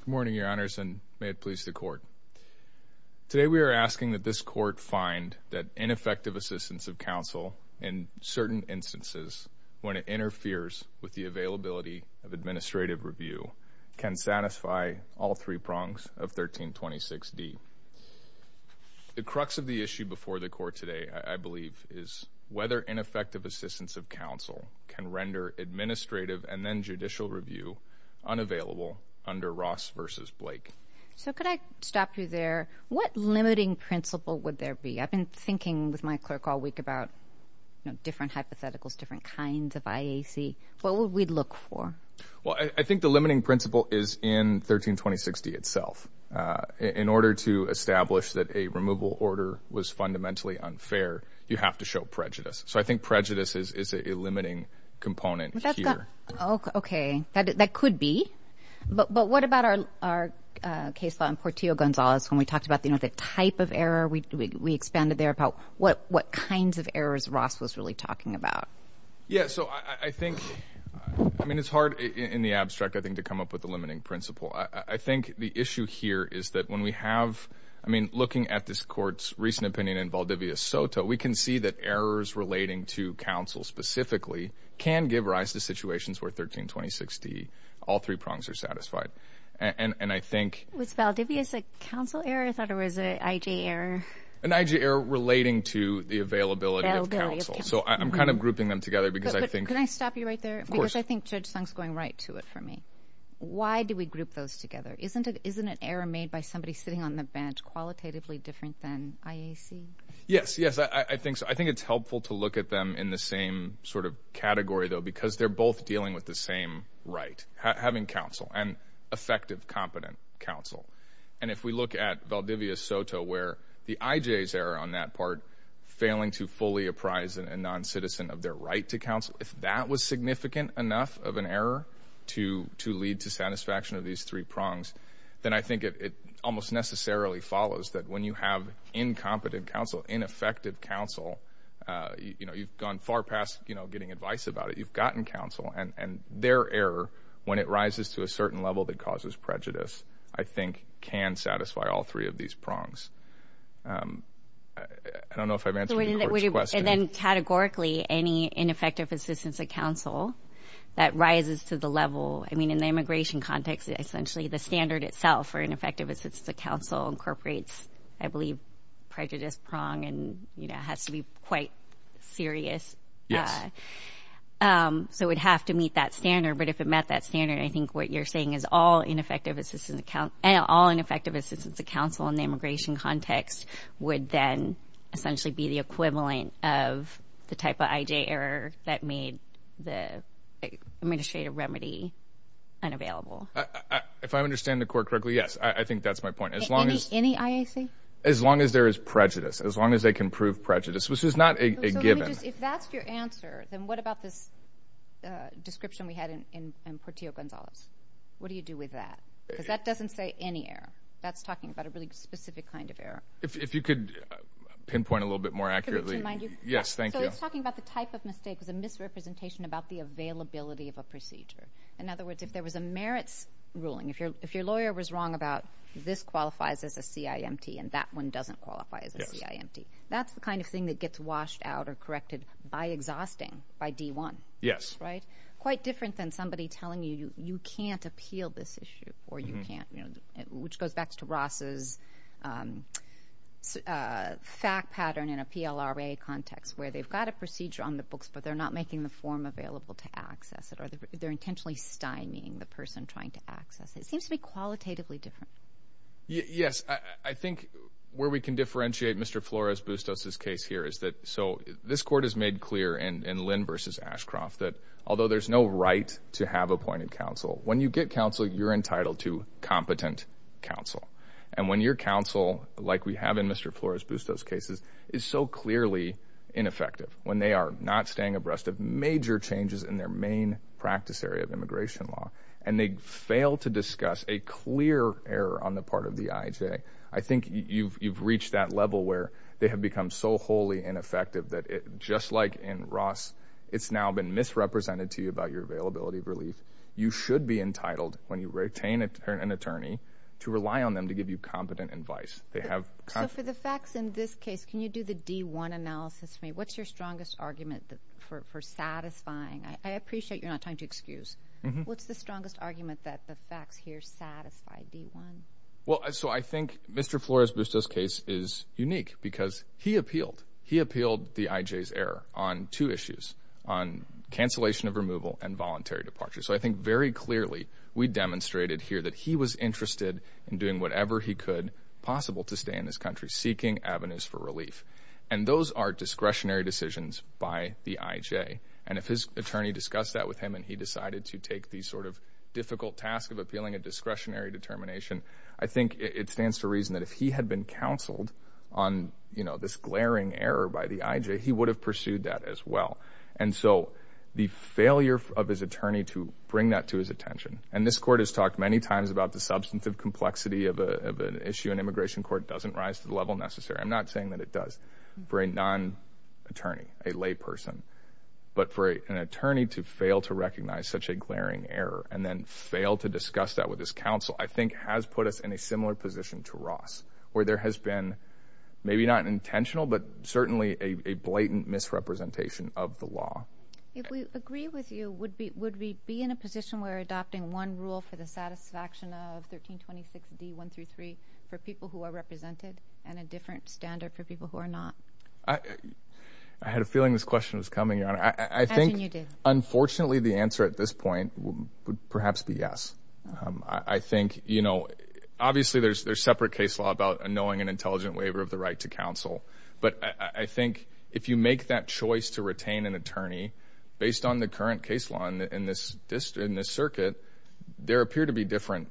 Good morning, Your Honors, and may it please the Court. Today, we are asking that this Court find that ineffective assistance of counsel in certain instances, when it interferes with the availability of administrative review, can satisfy all three prongs of 1326d. The crux of the issue before the Court today, I believe, is whether ineffective assistance of counsel can render administrative and then judicial review unavailable under Ross v. Blake. So could I stop you there? What limiting principle would there be? I've been thinking with my clerk all week about different hypotheticals, different kinds of IAC. What would we look for? Well, I think the limiting principle is in 1326d itself. In order to establish that a removal order was fundamentally unfair, you have to show prejudice. So I think prejudice is a limiting component here. Okay, that could be. But what about our case on Portillo-Gonzalez, when we talked about the type of error, we expanded there about what kinds of errors Ross was really talking about? Yeah, so I think, I mean, it's hard in the abstract, I think, to come up with a limiting principle. I think the issue here is that when we have, I mean, looking at this Court's recent opinion in Valdivia Soto, we can see that errors relating to counsel, specifically, can give rise to situations where 1326d, all three prongs are satisfied. And I think... Was Valdivia's a counsel error? I thought it was an I.G. error. An I.G. error relating to the availability of counsel. So I'm kind of grouping them together because I think... But can I stop you right there? Of course. Because I think Judge Sung's going right to it for me. Why do we group those together? Isn't an error made by somebody sitting on the bench qualitatively different than IAC? Yes, yes. I think it's helpful to look at them in the same sort of category, though, because they're both dealing with the same right, having counsel, and effective, competent counsel. And if we look at Valdivia Soto, where the I.J.'s error on that part, failing to fully apprise a non-citizen of their right to counsel, if that was significant enough of an error to lead to satisfaction of these three prongs, then I think it almost necessarily follows that when you have incompetent counsel, ineffective counsel, you've gone far past getting advice about it. You've gotten counsel. And their error, when it rises to a certain level that causes prejudice, I think can satisfy all three of these prongs. I don't know if I've answered your question. And then categorically, any ineffective assistance of counsel that rises to the level, I mean, in the immigration context, essentially the standard itself for ineffective assistance of counsel incorporates, I believe, prejudice prong and has to be quite serious. So it would have to meet that standard. But if it met that standard, I think what you're saying is all ineffective assistance of counsel in the immigration context would then essentially be the equivalent of the type of I.J. error that made the administrative remedy unavailable. If I understand the court correctly, yes. I think that's my point. Any I.A.C.? As long as there is prejudice, as long as they can prove prejudice, which is not a given. So let me just, if that's your answer, then what about this description we had in Portillo-Gonzalez? What do you do with that? Because that doesn't say any error. That's talking about a really specific kind of error. If you could pinpoint a little bit more accurately. Could I change my mind? Yes, thank you. So it's talking about the type of mistake. It's a misrepresentation about the availability of a procedure. In other words, if there was a merits ruling, if your lawyer was wrong about this qualifies as a CIMT and that one doesn't qualify as a CIMT, that's the kind of thing that gets washed out or corrected by exhausting, by D1. Yes. Right? Quite different than somebody telling you, you can't appeal this issue or you can't, which goes back to Ross's fact pattern in a PLRA context where they've got a procedure on the books, but they're not making the form available to access it, or they're intentionally stymieing the person trying to access it. It seems to be qualitatively different. Yes. I think where we can differentiate Mr. Flores-Bustos' case here is that, so this court has made clear in Lynn v. Ashcroft that although there's no right to have appointed counsel, when you get counsel, you're entitled to competent counsel. When your counsel, like we have in Mr. Flores-Bustos' cases, is so clearly ineffective, when they are not staying abreast of major changes in their main practice area of immigration law, and they fail to discuss a clear error on the part of the IJ, I think you've reached that level where they have become so wholly ineffective that just like in Ross, it's now been misrepresented to you about your availability of relief. You should be entitled, when you retain an attorney, to rely on them to give you competent advice. So for the facts in this case, can you do the D-1 analysis for me? What's your strongest argument for satisfying? I appreciate you're not trying to excuse. What's the strongest argument that the facts here satisfy D-1? Well, so I think Mr. Flores-Bustos' case is unique because he appealed. He appealed the IJ's error on two issues, on cancellation of removal and voluntary departure. So I think very clearly we demonstrated here that he was interested in doing whatever he could possible to stay in this country, seeking avenues for relief. And those are discretionary decisions by the IJ. And if his attorney discussed that with him and he decided to take the sort of difficult task of appealing a discretionary determination, I think it stands to reason that if he had been counseled on this glaring error by the IJ, he would have pursued that as well. And so the failure of his attorney to bring that to his attention, and this court has talked many times about the substantive complexity of an issue in immigration court doesn't rise to the level necessary. I'm not saying that it does for a non-attorney, a layperson. But for an attorney to fail to recognize such a glaring error and then fail to discuss that with his counsel, I think has put us in a similar position to Ross, where there has been maybe not an intentional, but certainly a blatant misrepresentation of the law. If we agree with you, would we be in a position where we're adopting one rule for the satisfaction of 1326 D. 1 through 3 for people who are represented and a different standard for people who are not? I had a feeling this question was coming, Your Honor. I think unfortunately, the answer at this point would perhaps be yes. I think, you know, obviously, there's there's separate case law about knowing an intelligent waiver of the right to counsel. But I think if you make that choice to retain an attorney based on the current case law in this district, in this circuit, there appear to be different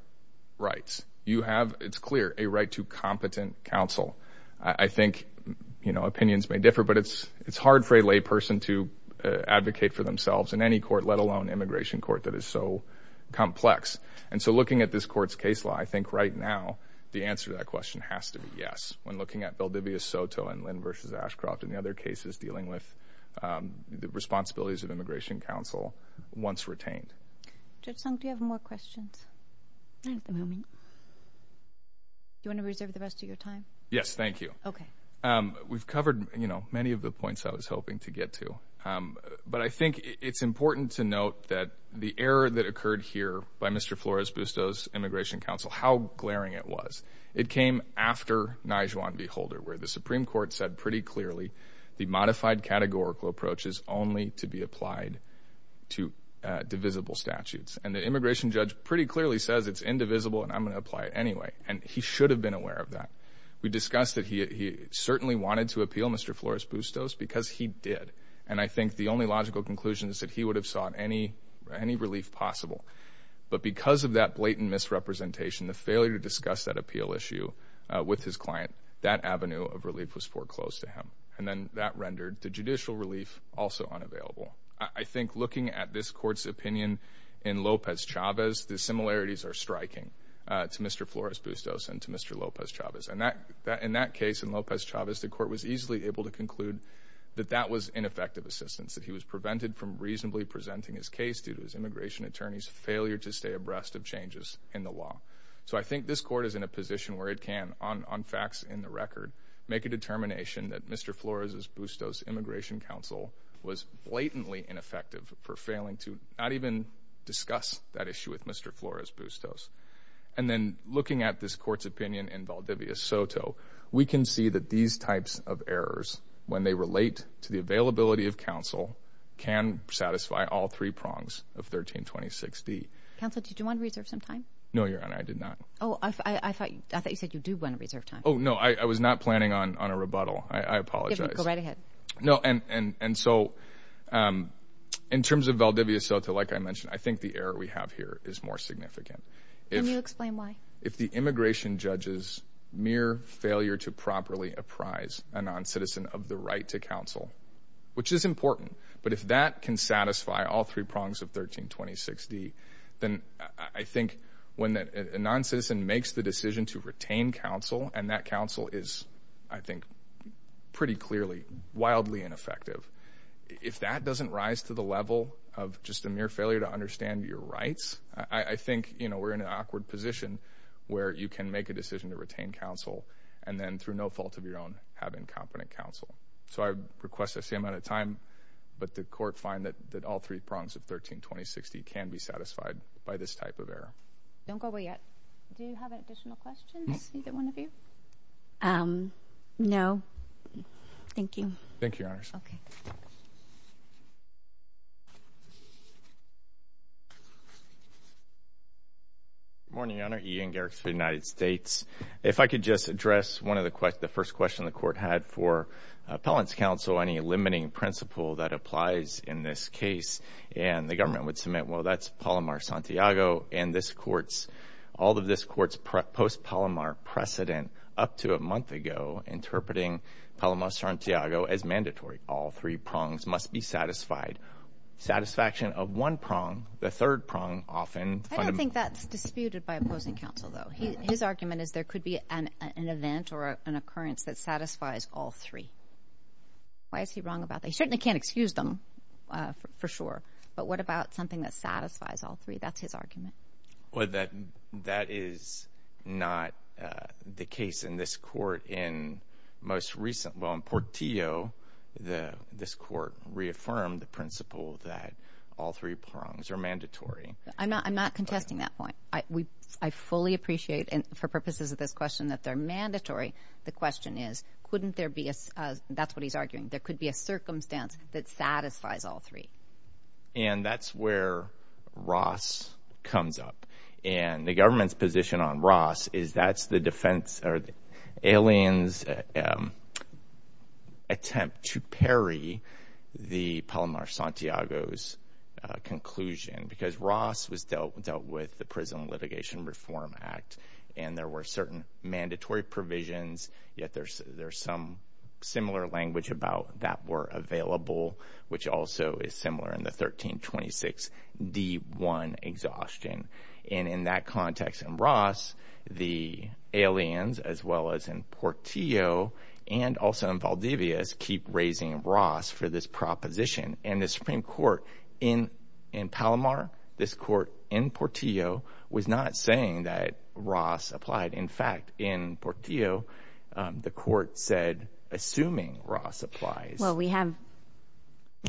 rights. You have, it's clear, a right to competent counsel. I think, you know, opinions may differ, but it's it's hard for a lay person to advocate for themselves in any court, let alone immigration court that is so complex. And so looking at this court's case law, I think right now the answer to that question has to be yes. When looking at Valdivia Soto and Lynn versus Ashcroft and the other cases dealing with the responsibilities of immigration counsel once retained. Judge Sung, do you have more questions? Not at the moment. Do you want to reserve the rest of your time? Yes, thank you. Okay. We've covered, you know, many of the points I was hoping to get to. But I think it's important to note that the error that occurred here by Mr. Flores-Bustos' immigration counsel, how glaring it was. It came after Nijhuan v. Holder, where the Supreme Court said pretty clearly the modified categorical approach is only to be applied to divisible statutes. And the immigration judge pretty clearly says it's indivisible and I'm going to apply it anyway. And he should have been aware of that. We discussed that he certainly wanted to appeal Mr. Flores-Bustos because he did. And I think the only logical conclusion is that he would have sought any relief possible. But because of that blatant misrepresentation, the failure to discuss that appeal issue with his client, that avenue of relief was foreclosed to him. And then that rendered the judicial relief also unavailable. I think looking at this Court's opinion in Lopez Chavez, the similarities are striking to Mr. Flores-Bustos and to Mr. Lopez Chavez. And in that case, in Lopez Chavez, the Court was easily able to conclude that that was ineffective assistance, that he was prevented from reasonably presenting his case due to his immigration attorney's failure to stay abreast of changes in the law. So I think this Court is in a position where it can, on facts in the record, make a determination that Mr. Flores-Bustos' immigration counsel was blatantly ineffective for failing to not even discuss that issue with Mr. Flores-Bustos. And then looking at this Court's opinion in Valdivia Soto, we can see that these types of errors, when they relate to the availability of counsel, can satisfy all three prongs of 1326d. Counsel, did you want to reserve some time? No, Your Honor, I did not. Oh, I thought you said you do want to reserve time. Oh, no, I was not planning on a rebuttal. I apologize. You can go right ahead. No, and so in terms of Valdivia Soto, like I mentioned, I think the error we have here is more significant. Can you explain why? If the immigration judge's mere failure to properly apprise a non-citizen of the right to counsel, which is important, but if that can satisfy all three prongs of 1326d, then I think when a non-citizen makes the decision to retain counsel, and that counsel is, I think, pretty clearly wildly ineffective, if that doesn't rise to the level of just a mere failure to understand your rights, I think, you know, we're in an awkward position where you can make a decision to retain counsel and then, through no fault of your own, have incompetent counsel. So I request the same amount of time, but the Court find that all three prongs of 1326d can be satisfied by this type of error. Don't go away yet. Do you have additional questions, either one of you? No. Thank you. Thank you, Your Honors. Okay. Good morning, Your Honor. Ian Garrix for the United States. If I could just address one of the questions, the first question the Court had for appellant's counsel, any limiting principle that applies in this case, and the government would submit, well, that's Palomar-Santiago, and this Court's, all of this Court's post-Palomar precedent up to a month ago interpreting Palomar-Santiago as mandatory, all three prongs must be satisfied. Satisfaction of one prong, the third prong, often— I don't think that's disputed by opposing counsel, though. His argument is there could be an event or an occurrence that satisfies all three. Why is he wrong about that? He certainly can't excuse them, for sure, but what about something that satisfies all three? That's his argument. That is not the case in this Court. In most recent, well, in Portillo, the, this Court reaffirmed the principle that all three prongs are mandatory. I'm not, I'm not contesting that point. I fully appreciate, and for purposes of this question, that they're mandatory. The question is, couldn't there be a, that's what he's arguing, there could be a circumstance that satisfies all three. And that's where Ross comes up, and the government's position on Ross is that's the defense, or the alien's attempt to parry the Palomar-Santiago's conclusion, because Ross was dealt with the Prison Litigation Reform Act, and there were certain mandatory provisions, yet there's some similar language about that were available, which also is similar in the 1326 D-1 exhaustion. And in that context, in Ross, the aliens, as well as in Portillo, and also in Valdivius, keep raising Ross for this proposition. And the Supreme Court in, in Palomar, this Court in Portillo, was not saying that Ross applied. In fact, in Portillo, the Court said, assuming Ross applies. Well, we have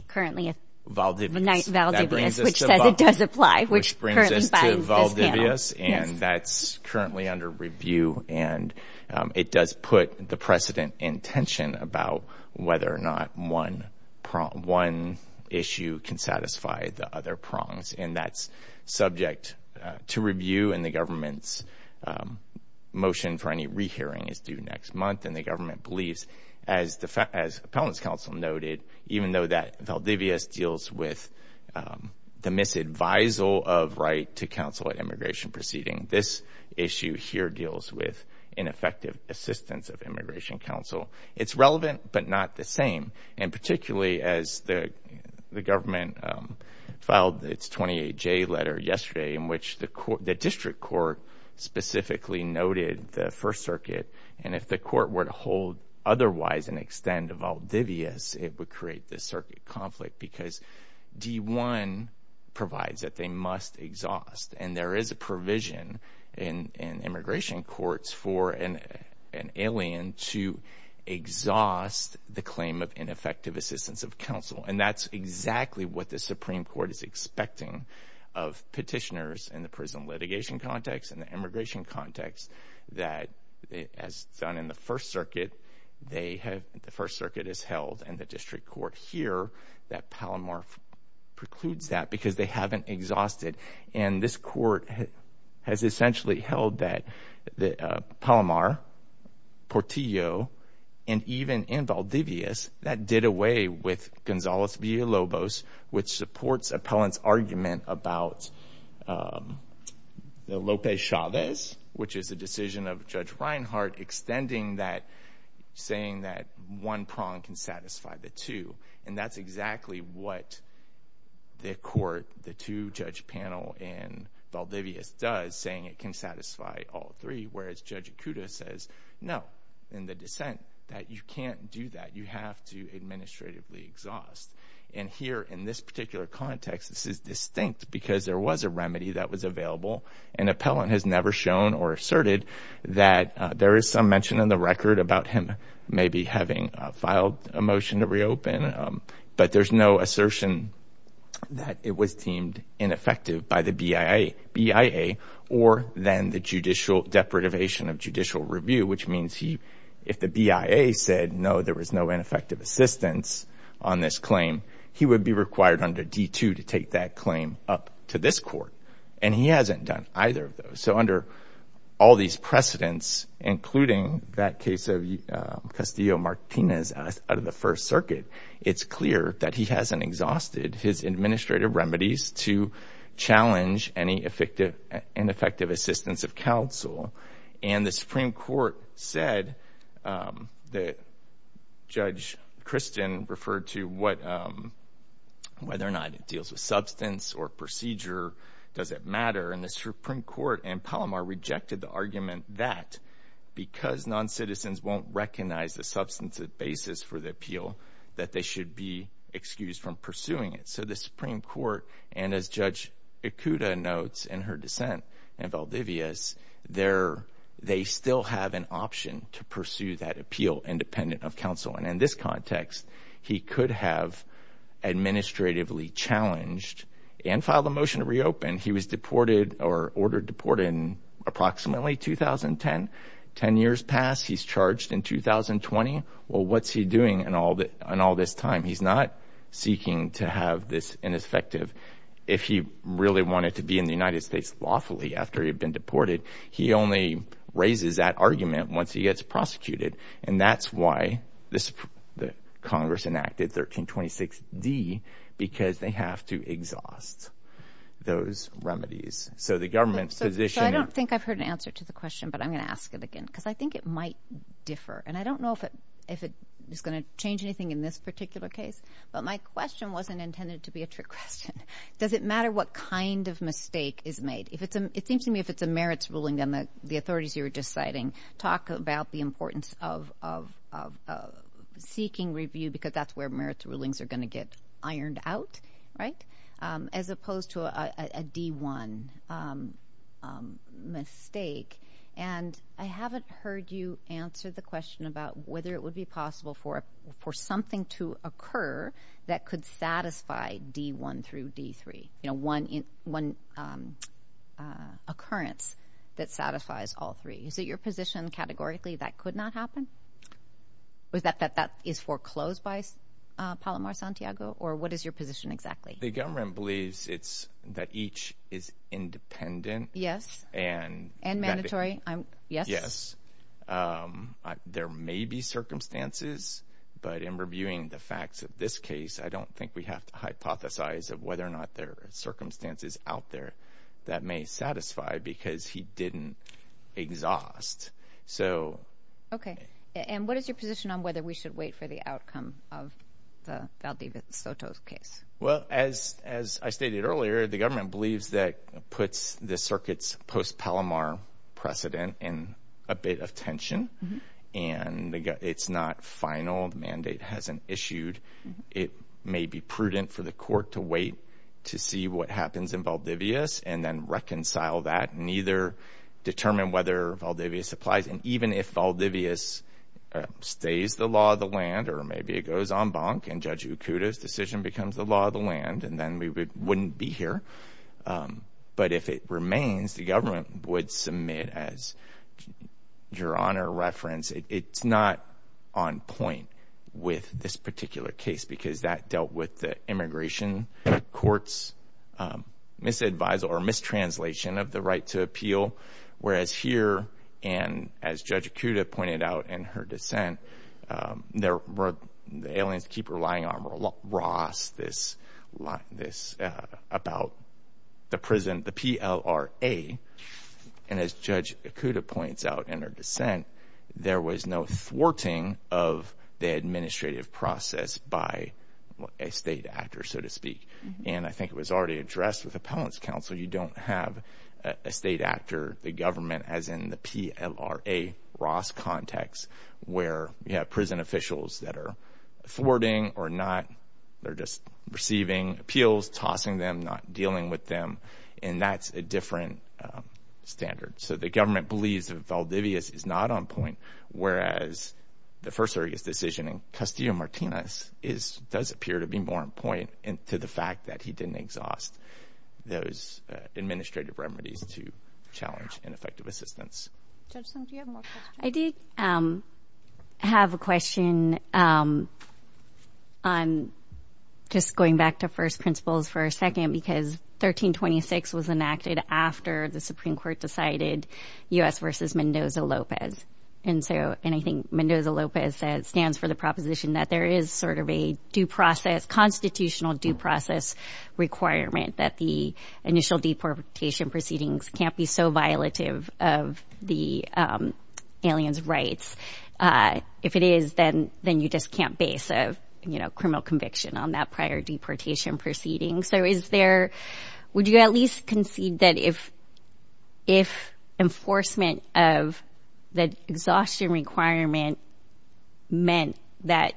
currently a, Valdivius, which says it does apply. Which brings us to Valdivius, and that's currently under review, and it does put the precedent in tension about whether or not one issue can satisfy the other prongs. And that's subject to review, and the government's motion for any rehearing is due next month. And the government believes, as the, as Appellant's Counsel noted, even though that Valdivius deals with the misadvisal of right to counsel at immigration proceeding, this issue here deals with ineffective assistance of immigration counsel. It's relevant, but not the same. And particularly, as the, the government filed its 28J letter yesterday, in which the Court, the District Court, specifically noted the First Circuit, and if the Court were to hold otherwise an extent of Valdivius, it would create this circuit conflict. Because D1 provides that they must exhaust, and there is a provision in, in immigration courts for an, an alien to exhaust the claim of ineffective assistance of counsel. And that's exactly what the Supreme Court is expecting of petitioners in the prison litigation context, and the immigration context that it has done in the First Circuit. They have, the First Circuit has held, and the District Court here, that Palomar precludes that because they haven't exhausted. And this Court has essentially held that that Palomar, Portillo, and even in Valdivius, that did away with Gonzalez v. Lobos, which supports Appellant's argument about the Lopez-Chavez, which is a decision of Judge Reinhart, extending that, saying that one prong can satisfy the two. And that's exactly what the Court, the two-judge panel in Valdivius does, saying it can satisfy all three, whereas Judge Acuda says, no, in the dissent, that you can't do that. You have to administratively exhaust. And here, in this particular context, this is distinct because there was a remedy that was available, and Appellant has never shown or asserted that. There is some mention in the record about him maybe having filed a motion to reopen, but there's no assertion that it was deemed ineffective by the BIA, or then the judicial of judicial review, which means if the BIA said, no, there was no ineffective assistance on this claim, he would be required under D-2 to take that claim up to this Court. And he hasn't done either of those. So under all these precedents, including that case of Castillo-Martinez out of the First Circuit, it's clear that he hasn't exhausted his administrative remedies to challenge any effective and effective assistance of counsel. And the Supreme Court said that Judge Christian referred to whether or not it deals with substance or procedure, does it matter? And the Supreme Court in Palomar rejected the argument that because non-citizens won't recognize the substantive basis for the appeal, that they should be excused from pursuing it. So the Supreme Court, and as Judge Ikuda notes in her dissent in Valdivia's, they still have an option to pursue that appeal independent of counsel. And in this context, he could have administratively challenged and filed a motion to reopen. He was deported or ordered deported in approximately 2010. Ten years passed, he's charged in 2020. Well, what's he doing in all this time? He's not seeking to have this ineffective. If he really wanted to be in the United States lawfully after he'd been deported, he only raises that argument once he gets prosecuted. And that's why the Congress enacted 1326D, because they have to exhaust those remedies. So the government's position... So I don't think I've heard an answer to the question, but I'm going to ask it again, because I think it might differ. And I don't know if it is going to change anything in this particular case, but my question wasn't intended to be a trick question. Does it matter what kind of mistake is made? It seems to me if it's a merits ruling, then the authorities you were just citing talk about the importance of seeking review, because that's where merits rulings are going to get ironed out, right? As opposed to a D1 mistake. And I haven't heard you answer the question about whether it would be possible for something to occur that could satisfy D1 through D3. You know, one occurrence that satisfies all three. Is it your position categorically that could not happen? Was that that is foreclosed by Palomar Santiago? Or what is your position exactly? The government believes it's that each is independent. Yes. And mandatory. Yes. There may be circumstances, but in reviewing the facts of this case, I don't think we have to hypothesize of whether or not there are circumstances out there that may satisfy, because he didn't exhaust. Okay. And what is your position on whether we should wait for the outcome of the Valdivia Soto's case? Well, as I stated earlier, the government believes that puts the circuit's post-Palomar precedent in a bit of tension. And it's not final. The mandate hasn't issued. It may be prudent for the court to wait to see what happens in Valdivia and then reconcile that and either determine whether Valdivia supplies. And even if Valdivia stays the law of the land, or maybe it goes en banc and Judge Ukuda's decision becomes the law of the land, and then we wouldn't be here. But if it remains, the government would submit as your honor reference. It's not on point with this particular case because that dealt with the immigration court's misadvice or mistranslation of the right to appeal. Whereas here, and as Judge Ukuda pointed out in her dissent, the aliens keep relying on Ross about the prison, the PLRA. And as Judge Ukuda points out in her dissent, there was no thwarting of the administrative process by a state actor, so to speak. And I think it was already addressed with appellant's counsel. You don't have a state actor, the government, as in the PLRA Ross context, where you have prison officials that are thwarting or not. They're just receiving appeals, tossing them, not dealing with them. And that's a different standard. So the government believes that Valdivia is not on point, whereas the first area's decision in Castillo-Martinez does appear to be more in point to the fact that he didn't exhaust those administrative remedies to challenge ineffective assistance. I did have a question on just going back to first principles for a second because 1326 was enacted after the Supreme Court decided U.S. versus Mendoza-Lopez. And so, and I think Mendoza-Lopez stands for the proposition that there is sort of a due process, constitutional due process requirement that the initial deportation proceedings can't be so violative of the aliens' rights. If it is, then you just can't base a criminal conviction on that prior deportation proceeding. So is there, would you at least concede that if enforcement of the exhaustion requirement meant that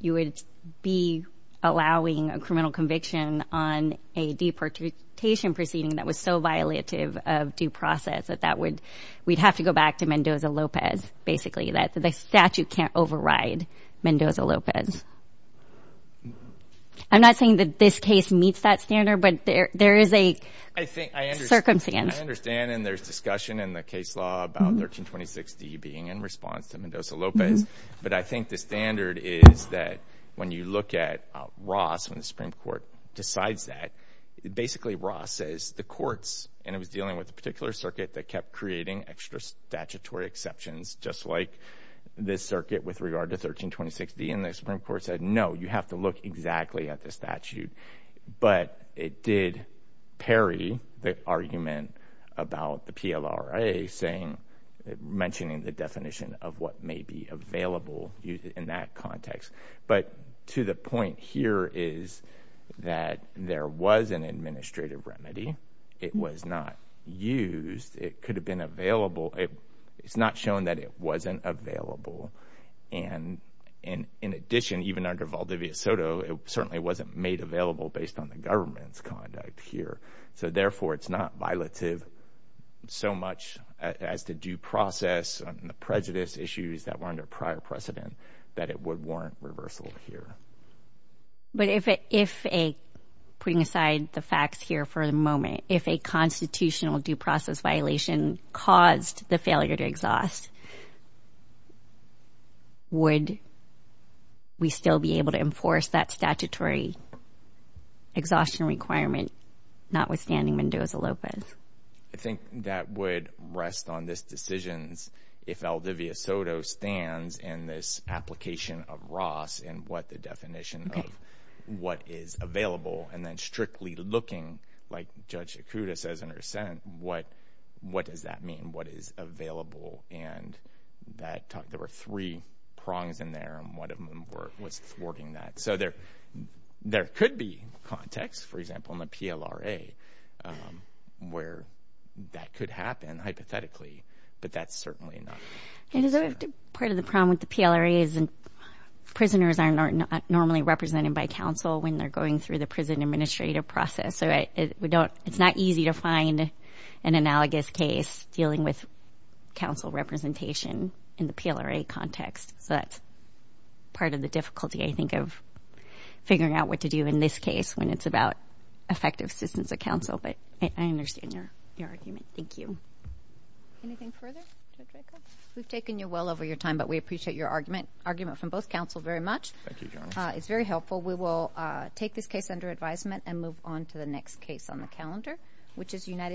you would be allowing a criminal conviction on a deportation proceeding that was so violative of due process that that would, we'd have to go I'm not saying that this case meets that standard, but there is a circumstance. I understand, and there's discussion in the case law about 1326D being in response to Mendoza-Lopez. But I think the standard is that when you look at Ross, when the Supreme Court decides that, basically Ross says the courts, and it was dealing with a particular circuit that kept creating extra statutory exceptions, just like this circuit with regard to 1326D, and the Supreme Court had to look exactly at the statute. But it did parry the argument about the PLRA mentioning the definition of what may be available in that context. But to the point here is that there was an administrative remedy. It was not used. It could have been available. It's not shown that it wasn't available. And in addition, even under Valdivia Soto, it certainly wasn't made available based on the government's conduct here. So therefore, it's not violative so much as the due process and the prejudice issues that were under prior precedent that it would warrant reversal here. But if a, putting aside the facts here for the moment, if a constitutional due process violation caused the failure to exhaust, would we still be able to enforce that statutory exhaustion requirement, notwithstanding Mendoza-Lopez? I think that would rest on this decisions if Valdivia Soto stands in this application of Ross and what the definition of what is available, and then strictly looking, like Judge Yakuda says in her sentence, what does that mean? What is available? And there were three prongs in there, and one of them was thwarting that. So there could be context, for example, in the PLRA where that could happen hypothetically, but that's certainly not. Part of the problem with the PLRA is that prisoners are not normally represented by counsel when they're going through the prison administrative process. So it's not easy to find an analogous case dealing with counsel representation in the PLRA context. So that's part of the difficulty, I think, of figuring out what to do in this case when it's about effective assistance of counsel, but I understand your argument. Thank you. Anything further, Judge Yakuda? We've taken you well over your time, but we appreciate your argument from both counsel very much. It's very helpful. We will take this case under advisement and move on to the next case on the calendar, which is United States...